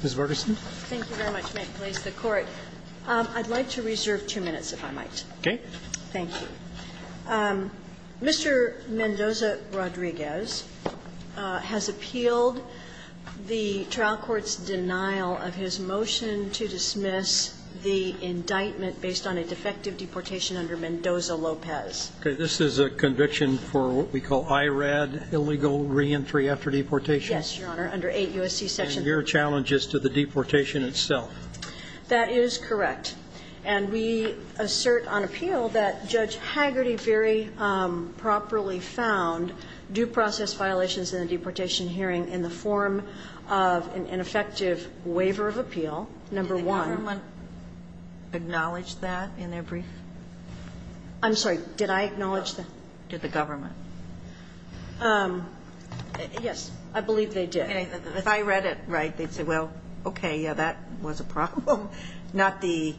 has appealed the trial court's denial of his motion to dismiss the indictment based on a defective deportation under Mendoza-Lopez. Okay. This is a conviction for what we call IRAD, illegal reentry after deportation. Thank you, Mr. Chief Justice. Your Honor, under 8 U.S.C. section. And your challenge is to the deportation itself. That is correct. And we assert on appeal that Judge Hagerty very properly found due process violations in the deportation hearing in the form of an effective waiver of appeal. Number one. Did the government acknowledge that in their brief? I'm sorry. Did I acknowledge that? Did the government? Yes. I believe they did. If I read it right, they'd say, well, okay, yeah, that was a problem. Not the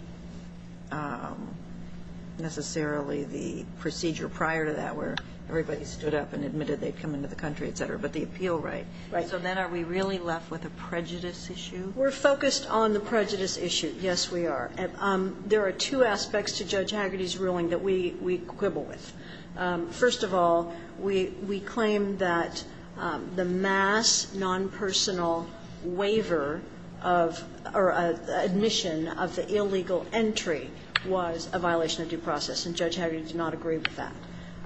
necessarily the procedure prior to that where everybody stood up and admitted they'd come into the country, et cetera, but the appeal right. Right. So then are we really left with a prejudice issue? We're focused on the prejudice issue. Yes, we are. There are two aspects to Judge Hagerty's ruling that we quibble with. First of all, we claim that the mass non-personal waiver of or admission of the illegal entry was a violation of due process, and Judge Hagerty did not agree with that.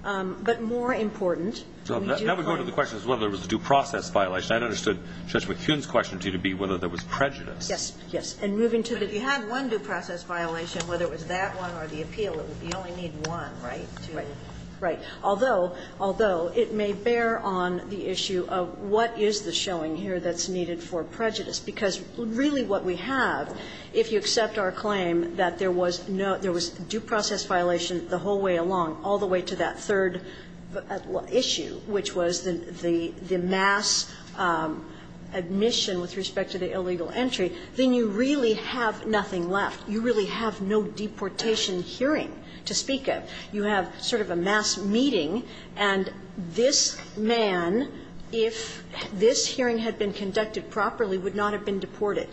But more important, we do agree. Now we're going to the question of whether it was a due process violation. I understood Judge McHugh's question to you to be whether there was prejudice. Yes, yes. And moving to the ---- But if you had one due process violation, whether it was that one or the appeal, you only need one, right, to ---- Right. Although, although, it may bear on the issue of what is the showing here that's needed for prejudice, because really what we have, if you accept our claim that there was no ---- there was due process violation the whole way along, all the way to that third issue, which was the mass admission with respect to the illegal entry, then you really have nothing left. You really have no deportation hearing to speak of. You have sort of a mass meeting, and this man, if this hearing had been conducted properly, would not have been deported.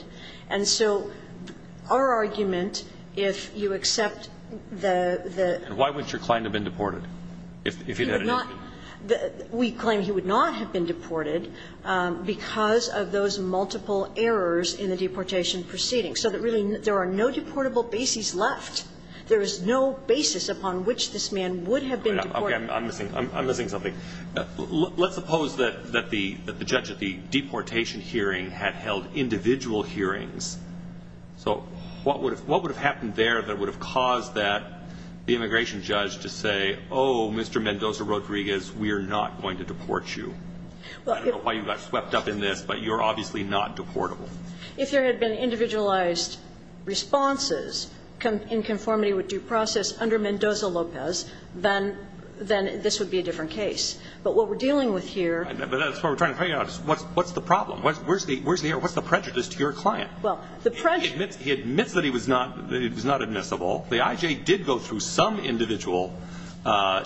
And so our argument, if you accept the ---- And why wouldn't your client have been deported, if he had an entry? We claim he would not have been deported because of those multiple errors in the deportation proceeding, so that really there are no deportable bases left. There is no basis upon which this man would have been deported. Okay. I'm missing something. Let's suppose that the judge at the deportation hearing had held individual hearings. So what would have happened there that would have caused that immigration judge to say, oh, Mr. Mendoza-Rodriguez, we are not going to deport you? I don't know why you got swept up in this, but you're obviously not deportable. If there had been individualized responses in conformity with due process under Mendoza-Lopez, then this would be a different case. But what we're dealing with here ---- But that's what we're trying to figure out. What's the problem? Where's the error? What's the prejudice to your client? Well, the prejudice ---- He admits that he was not admissible. The IJ did go through some individual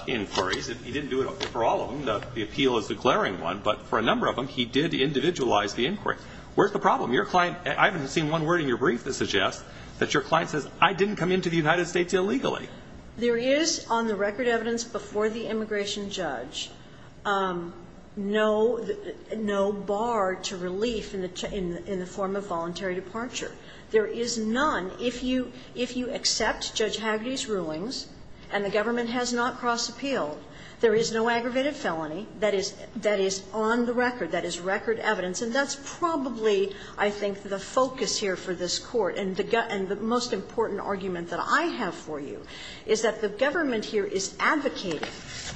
inquiries. He didn't do it for all of them. The appeal is declaring one, but for a number of them, he did individualize the inquiry. Where's the problem? Your client ---- I haven't seen one word in your brief that suggests that your client says, I didn't come into the United States illegally. There is, on the record evidence before the immigration judge, no bar to relief in the form of voluntary departure. There is none. If you accept Judge Hagerty's rulings and the government has not cross-appealed, there is no aggravated felony that is on the record, that is record evidence. And that's probably, I think, the focus here for this Court. And the most important argument that I have for you is that the government here is advocating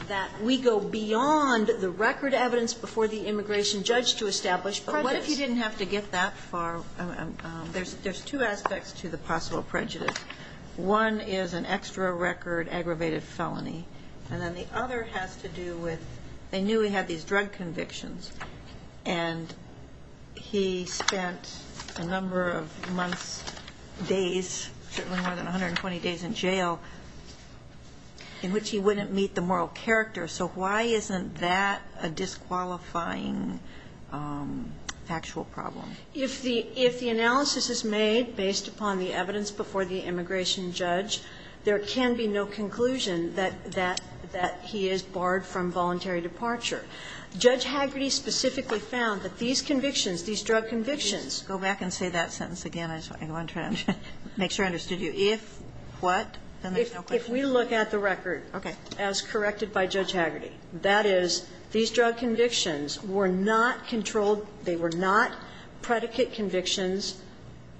that we go beyond the record evidence before the immigration judge to establish prejudice. But what if you didn't have to get that far? There's two aspects to the possible prejudice. One is an extra record aggravated felony, and then the other has to do with they knew he had these drug convictions, and he spent a number of months, days, certainly more than 120 days in jail, in which he wouldn't meet the moral character. So why isn't that a disqualifying factual problem? If the analysis is made based upon the evidence before the immigration judge, there can be no conclusion that he is barred from voluntary departure. Judge Hagerty specifically found that these convictions, these drug convictions Go back and say that sentence again. I want to make sure I understood you. If what? If we look at the record as corrected by Judge Hagerty, that is, these drug convictions were not controlled, they were not predicate convictions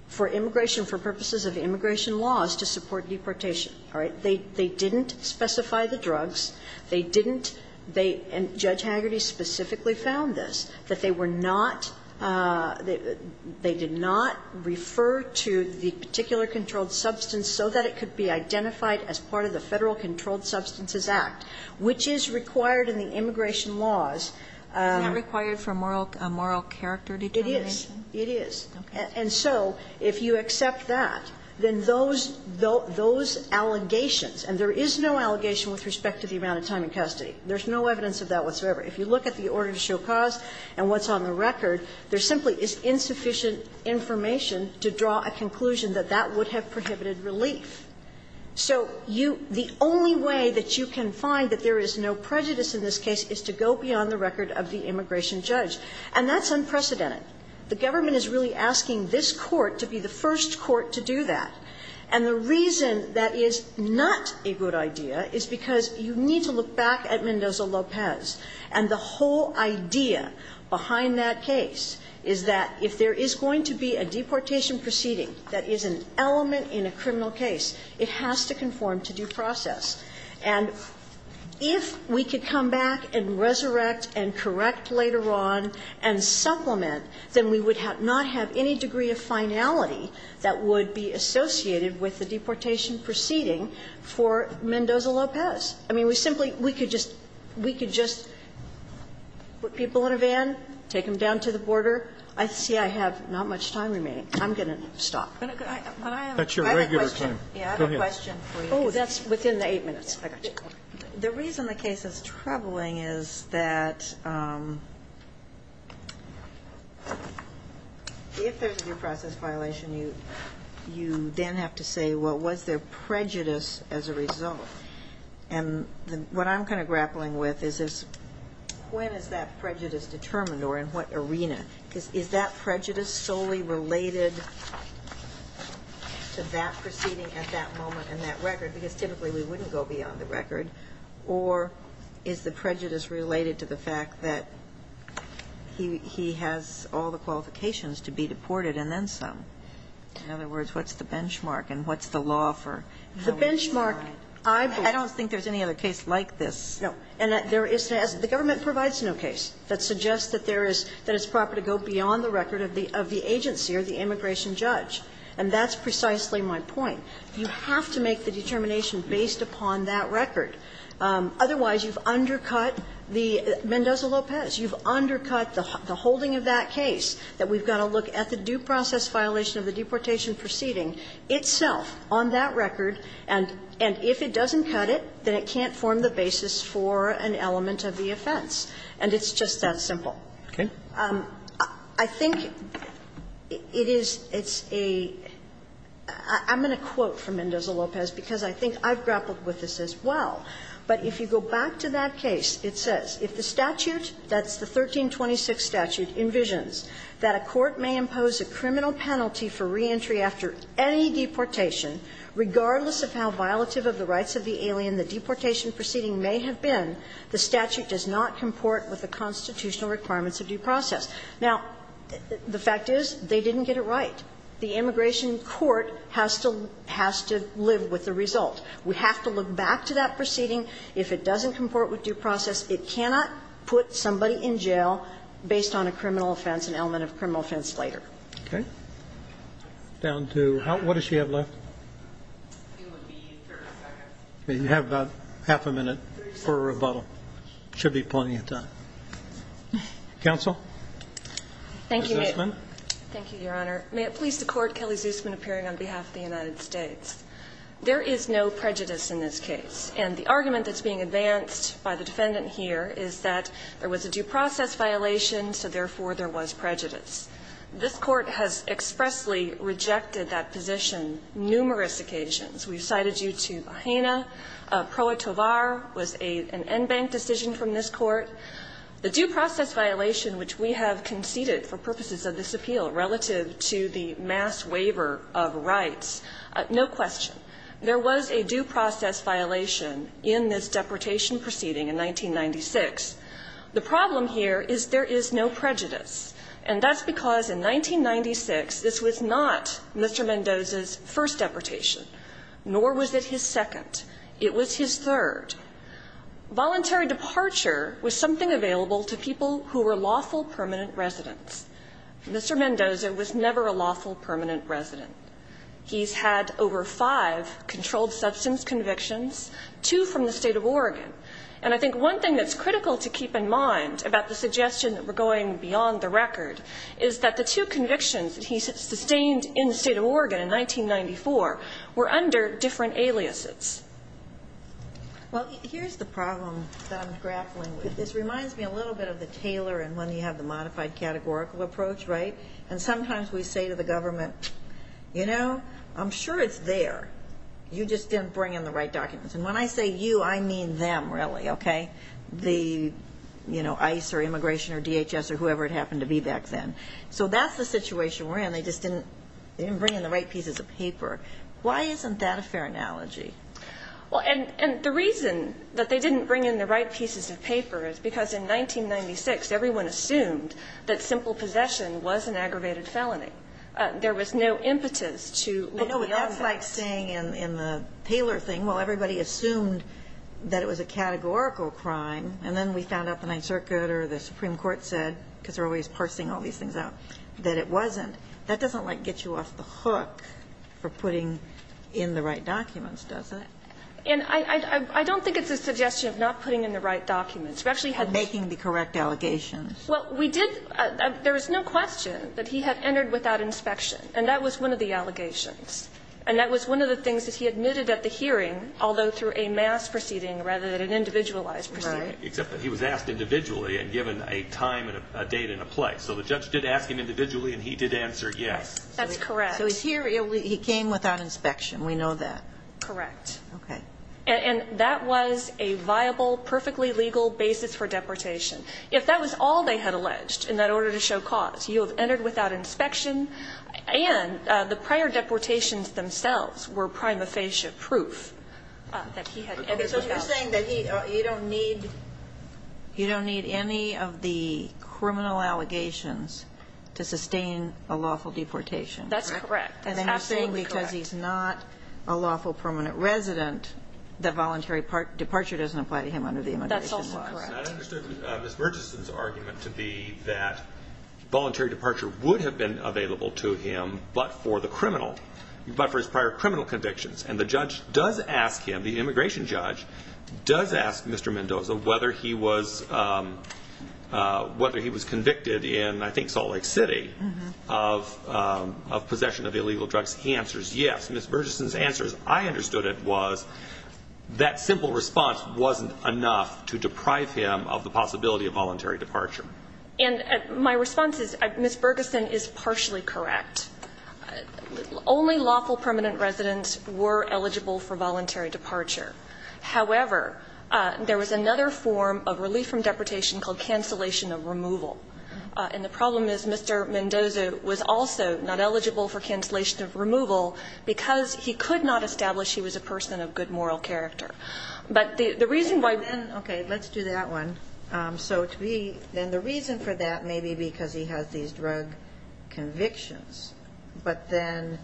for immigration, for purposes of immigration laws to support deportation, all right? They didn't specify the drugs. They didn't they and Judge Hagerty specifically found this, that they were not, they did not refer to the particular controlled substance so that it could be identified as part of the Federal Controlled Substances Act, which is required in the immigration laws. Isn't that required for moral character determination? It is. And so if you accept that, then those, those, those allegations, and there is no allegation with respect to the amount of time in custody. There's no evidence of that whatsoever. If you look at the order to show cause and what's on the record, there simply is insufficient information to draw a conclusion that that would have prohibited relief. So you, the only way that you can find that there is no prejudice in this case is to go beyond the record of the immigration judge, and that's unprecedented. The government is really asking this court to be the first court to do that. And the reason that is not a good idea is because you need to look back at Mendoza-Lopez, and the whole idea behind that case is that if there is going to be a deportation proceeding that is an element in a criminal case, it has to conform to due process. And if we could come back and resurrect and correct later on and supplement that, then we would not have any degree of finality that would be associated with the deportation proceeding for Mendoza-Lopez. I mean, we simply, we could just, we could just put people in a van, take them down to the border. I see I have not much time remaining. I'm going to stop. Sotomayor, that's your regular time. Go ahead. Oh, that's within the 8 minutes. I got you. The reason the case is troubling is that if there is a due process violation, you then have to say, well, was there prejudice as a result? And what I'm kind of grappling with is when is that prejudice determined or in what arena? Because is that prejudice solely related to that proceeding at that moment and that record, because typically we wouldn't go beyond the record, or is the prejudice related to the fact that he has all the qualifications to be deported and then some? In other words, what's the benchmark and what's the law for how we decide? The benchmark, I don't think there's any other case like this. No. And there is, the government provides no case that suggests that there is, that it's proper to go beyond the record of the agency or the immigration judge. And that's precisely my point. You have to make the determination based upon that record. Otherwise, you've undercut the Mendoza-Lopez. You've undercut the holding of that case, that we've got to look at the due process violation of the deportation proceeding itself on that record, and if it doesn't cut it, then it can't form the basis for an element of the offense. And it's just that simple. Okay. And I think it is, it's a, I'm going to quote from Mendoza-Lopez, because I think I've grappled with this as well, but if you go back to that case, it says, If the statute, that's the 1326 statute, envisions that a court may impose a criminal penalty for reentry after any deportation, regardless of how violative of the rights of the alien the deportation proceeding may have been, the statute does not comport with the constitutional requirements of due process. Now, the fact is, they didn't get it right. The immigration court has to, has to live with the result. We have to look back to that proceeding. If it doesn't comport with due process, it cannot put somebody in jail based on a criminal offense, an element of criminal offense later. Okay. Down to how, what does she have left? It would be 30 seconds. You have about half a minute for rebuttal. Should be plenty of time. Counsel? Thank you, Your Honor. May it please the Court, Kelly Zusman, appearing on behalf of the United States. There is no prejudice in this case, and the argument that's being advanced by the defendant here is that there was a due process violation, so therefore there was prejudice. This Court has expressly rejected that position numerous occasions. We've cited you to Bahena. Proetovar was an en banc decision from this Court. The due process violation, which we have conceded for purposes of this appeal relative to the mass waiver of rights, no question. There was a due process violation in this deportation proceeding in 1996. The problem here is there is no prejudice, and that's because in 1996 this was not Mr. Mendoza's first deportation, nor was it his second. It was his third. Voluntary departure was something available to people who were lawful permanent residents. Mr. Mendoza was never a lawful permanent resident. He's had over five controlled substance convictions, two from the State of Oregon. And I think one thing that's critical to keep in mind about the suggestion that we're going beyond the record is that the two convictions that he sustained in the State of Oregon in 1994 were under different aliases. Well, here's the problem that I'm grappling with. This reminds me a little bit of the Taylor and when you have the modified categorical approach, right? And sometimes we say to the government, you know, I'm sure it's there. You just didn't bring in the right documents. And when I say you, I mean them, really, okay? The, you know, ICE or immigration or DHS or whoever it happened to be back then. So that's the situation we're in. They just didn't bring in the right pieces of paper. Why isn't that a fair analogy? Well, and the reason that they didn't bring in the right pieces of paper is because in 1996 everyone assumed that simple possession was an aggravated felony. There was no impetus to look beyond that. But I know what that's like saying in the Taylor thing. Well, everybody assumed that it was a categorical crime, and then we found out the Ninth Circuit or the Supreme Court said, because they're always parsing all these things out, that it wasn't. That doesn't, like, get you off the hook for putting in the right documents, does it? And I don't think it's a suggestion of not putting in the right documents. We actually had this. Making the correct allegations. Well, we did. There is no question that he had entered without inspection, and that was one of the things that he admitted at the hearing, although through a mass proceeding rather than an individualized proceeding. Right. Except that he was asked individually and given a time and a date and a place. So the judge did ask him individually and he did answer yes. That's correct. So here he came without inspection. We know that. Correct. Okay. And that was a viable, perfectly legal basis for deportation. If that was all they had alleged in that order to show cause, you have entered without inspection. And the prior deportations themselves were prima facie proof that he had entered without inspection. Okay. So you're saying that he, you don't need, you don't need any of the criminal allegations to sustain a lawful deportation. That's correct. That's absolutely correct. And then you're saying because he's not a lawful permanent resident, that voluntary departure doesn't apply to him under the immigration law. That's also correct. And I understood Ms. Burgesson's argument to be that voluntary departure would have been available to him but for the criminal, but for his prior criminal convictions. And the judge does ask him, the immigration judge does ask Mr. Mendoza whether he was, whether he was convicted in I think Salt Lake City of possession of illegal drugs. He answers yes. Ms. Burgesson's answers, I understood it, was that simple response wasn't enough to deprive him of the possibility of voluntary departure. And my response is, Ms. Burgesson is partially correct. Only lawful permanent residents were eligible for voluntary departure. However, there was another form of relief from deportation called cancellation of removal. And the problem is Mr. Mendoza was also not eligible for cancellation of removal because he could not establish he was a person of good moral character. But the reason why. Okay. Let's do that one. So to be, then the reason for that may be because he has these drug convictions. But then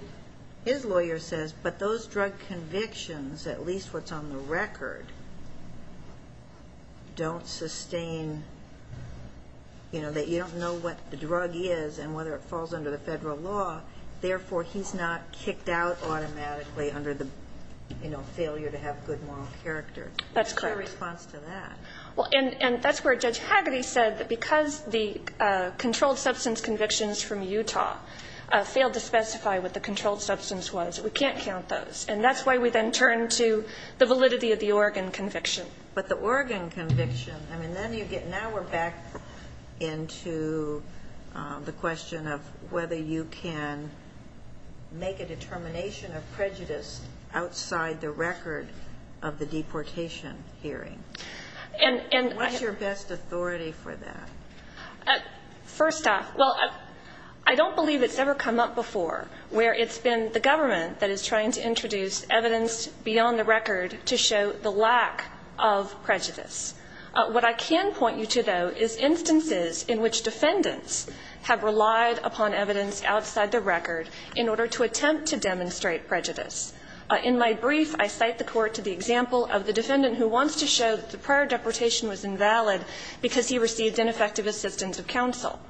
his lawyer says, but those drug convictions, at least what's on the record, don't sustain, you know, that you don't know what the drug is and whether it falls under the federal law. Therefore, he's not kicked out automatically under the, you know, failure to have good moral character. That's correct. What's my response to that? Well, and that's where Judge Hagerty said that because the controlled substance convictions from Utah failed to specify what the controlled substance was, we can't count those. And that's why we then turned to the validity of the Oregon conviction. But the Oregon conviction, I mean, then you get now we're back into the question of whether you can make a determination of prejudice outside the record of the deportation hearing. And I. What's your best authority for that? First off, well, I don't believe it's ever come up before where it's been the government that is trying to introduce evidence beyond the record to show the lack of prejudice. What I can point you to, though, is instances in which defendants have relied upon evidence outside the record in order to attempt to demonstrate prejudice. In my brief, I cite the court to the example of the defendant who wants to show that the prior deportation was invalid because he received ineffective assistance of counsel.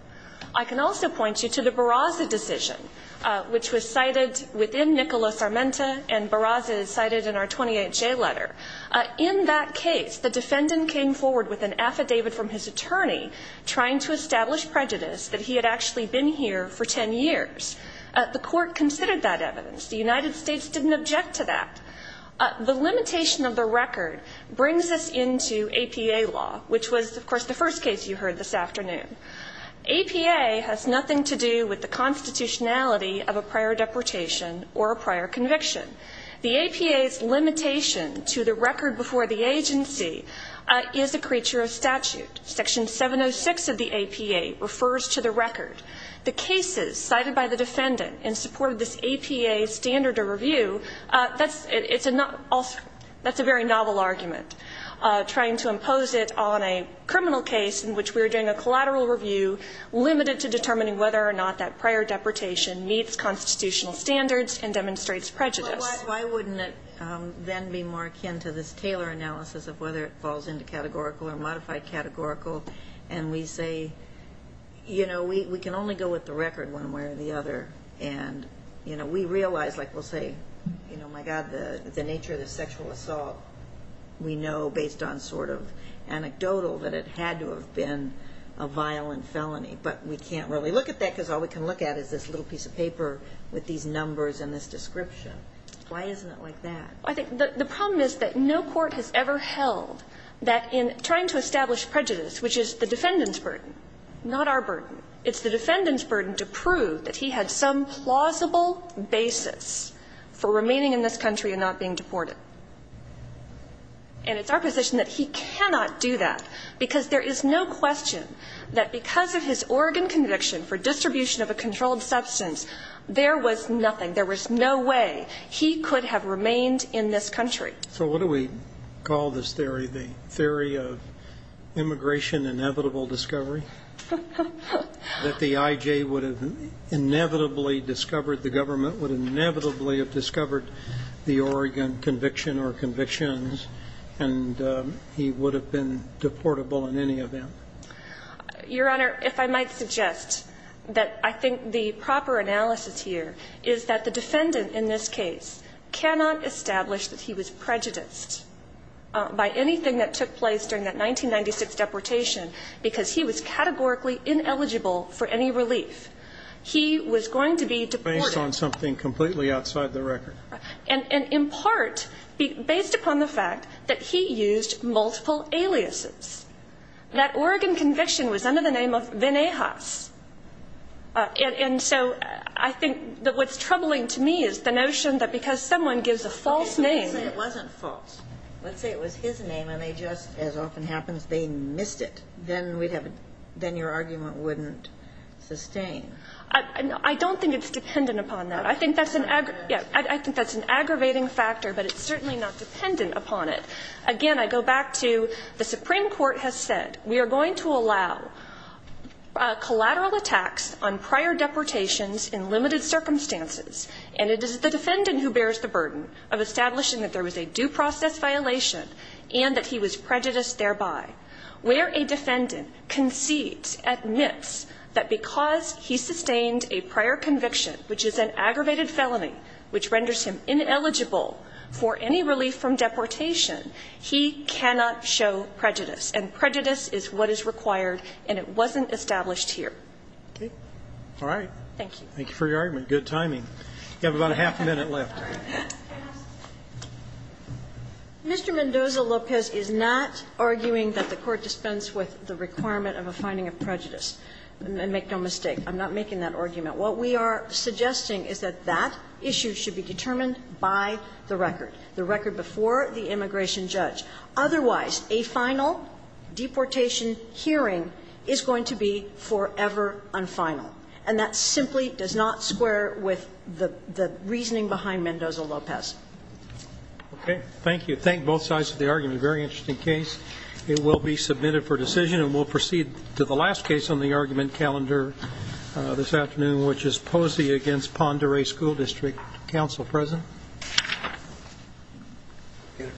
I can also point you to the Barraza decision, which was cited within Nicholas Armenta, and Barraza is cited in our 28-J letter. In that case, the defendant came forward with an affidavit from his attorney trying to establish prejudice that he had actually been here for ten years. The court considered that evidence. The United States didn't object to that. The limitation of the record brings us into APA law, which was, of course, the first case you heard this afternoon. APA has nothing to do with the constitutionality of a prior deportation or a prior conviction. The APA's limitation to the record before the agency is a creature of statute. Section 706 of the APA refers to the record. The cases cited by the defendant in support of this APA standard of review, that's a very novel argument. Trying to impose it on a criminal case in which we're doing a collateral review limited to determining whether or not that prior deportation meets constitutional standards and demonstrates prejudice. Why wouldn't it then be more akin to this Taylor analysis of whether it falls into categorical or modified categorical, and we say, you know, we can only go with the record one way or the other. And, you know, we realize, like we'll say, you know, my God, the nature of the sexual assault, we know based on sort of anecdotal that it had to have been a violent felony. But we can't really look at that because all we can look at is this little piece of paper with these numbers and this description. Why isn't it like that? I think the problem is that no court has ever held that in trying to establish prejudice, which is the defendant's burden, not our burden, it's the defendant's burden to prove that he had some plausible basis for remaining in this country and not being deported. And it's our position that he cannot do that because there is no question that because of his Oregon conviction for distribution of a controlled substance, there was nothing, there was no way he could have remained in this country. So what do we call this theory? The theory of immigration inevitable discovery? That the I.J. would have inevitably discovered the government, would inevitably have discovered the Oregon conviction or convictions, and he would have been deportable in any event? Your Honor, if I might suggest that I think the proper analysis here is that the defendant in this case cannot establish that he was prejudiced by anything that took place during that 1996 deportation because he was categorically ineligible for any relief. He was going to be deported. Based on something completely outside the record. And in part, based upon the fact that he used multiple aliases. That Oregon conviction was under the name of Venejas. And so I think that what's troubling to me is the notion that because someone gives a false name. Let's say it wasn't false. Let's say it was his name and they just, as often happens, they missed it. Then we'd have a, then your argument wouldn't sustain. I don't think it's dependent upon that. I think that's an aggravating factor, but it's certainly not dependent upon it. Again, I go back to the Supreme Court has said we are going to allow collateral attacks on prior deportations in limited circumstances. And it is the defendant who bears the burden of establishing that there was a due process violation and that he was prejudiced thereby. Where a defendant concedes, admits that because he sustained a prior conviction, which is an aggravated felony, which renders him ineligible for any relief from deportation, he cannot show prejudice. And prejudice is what is required, and it wasn't established here. Okay? All right. Thank you. Thank you for your argument. Good timing. You have about a half a minute left. Mr. Mendoza-Lopez is not arguing that the Court dispense with the requirement of a finding of prejudice. And make no mistake, I'm not making that argument. What we are suggesting is that that issue should be determined by the record. The record before the immigration judge. Otherwise, a final deportation hearing is going to be forever unfinal. And that simply does not square with the reasoning behind Mendoza-Lopez. Okay. Thank you. Thank both sides of the argument. Very interesting case. It will be submitted for decision, and we'll proceed to the last case on the argument calendar this afternoon, which is Posey v. Ponderay School District. Counsel present? Beautiful.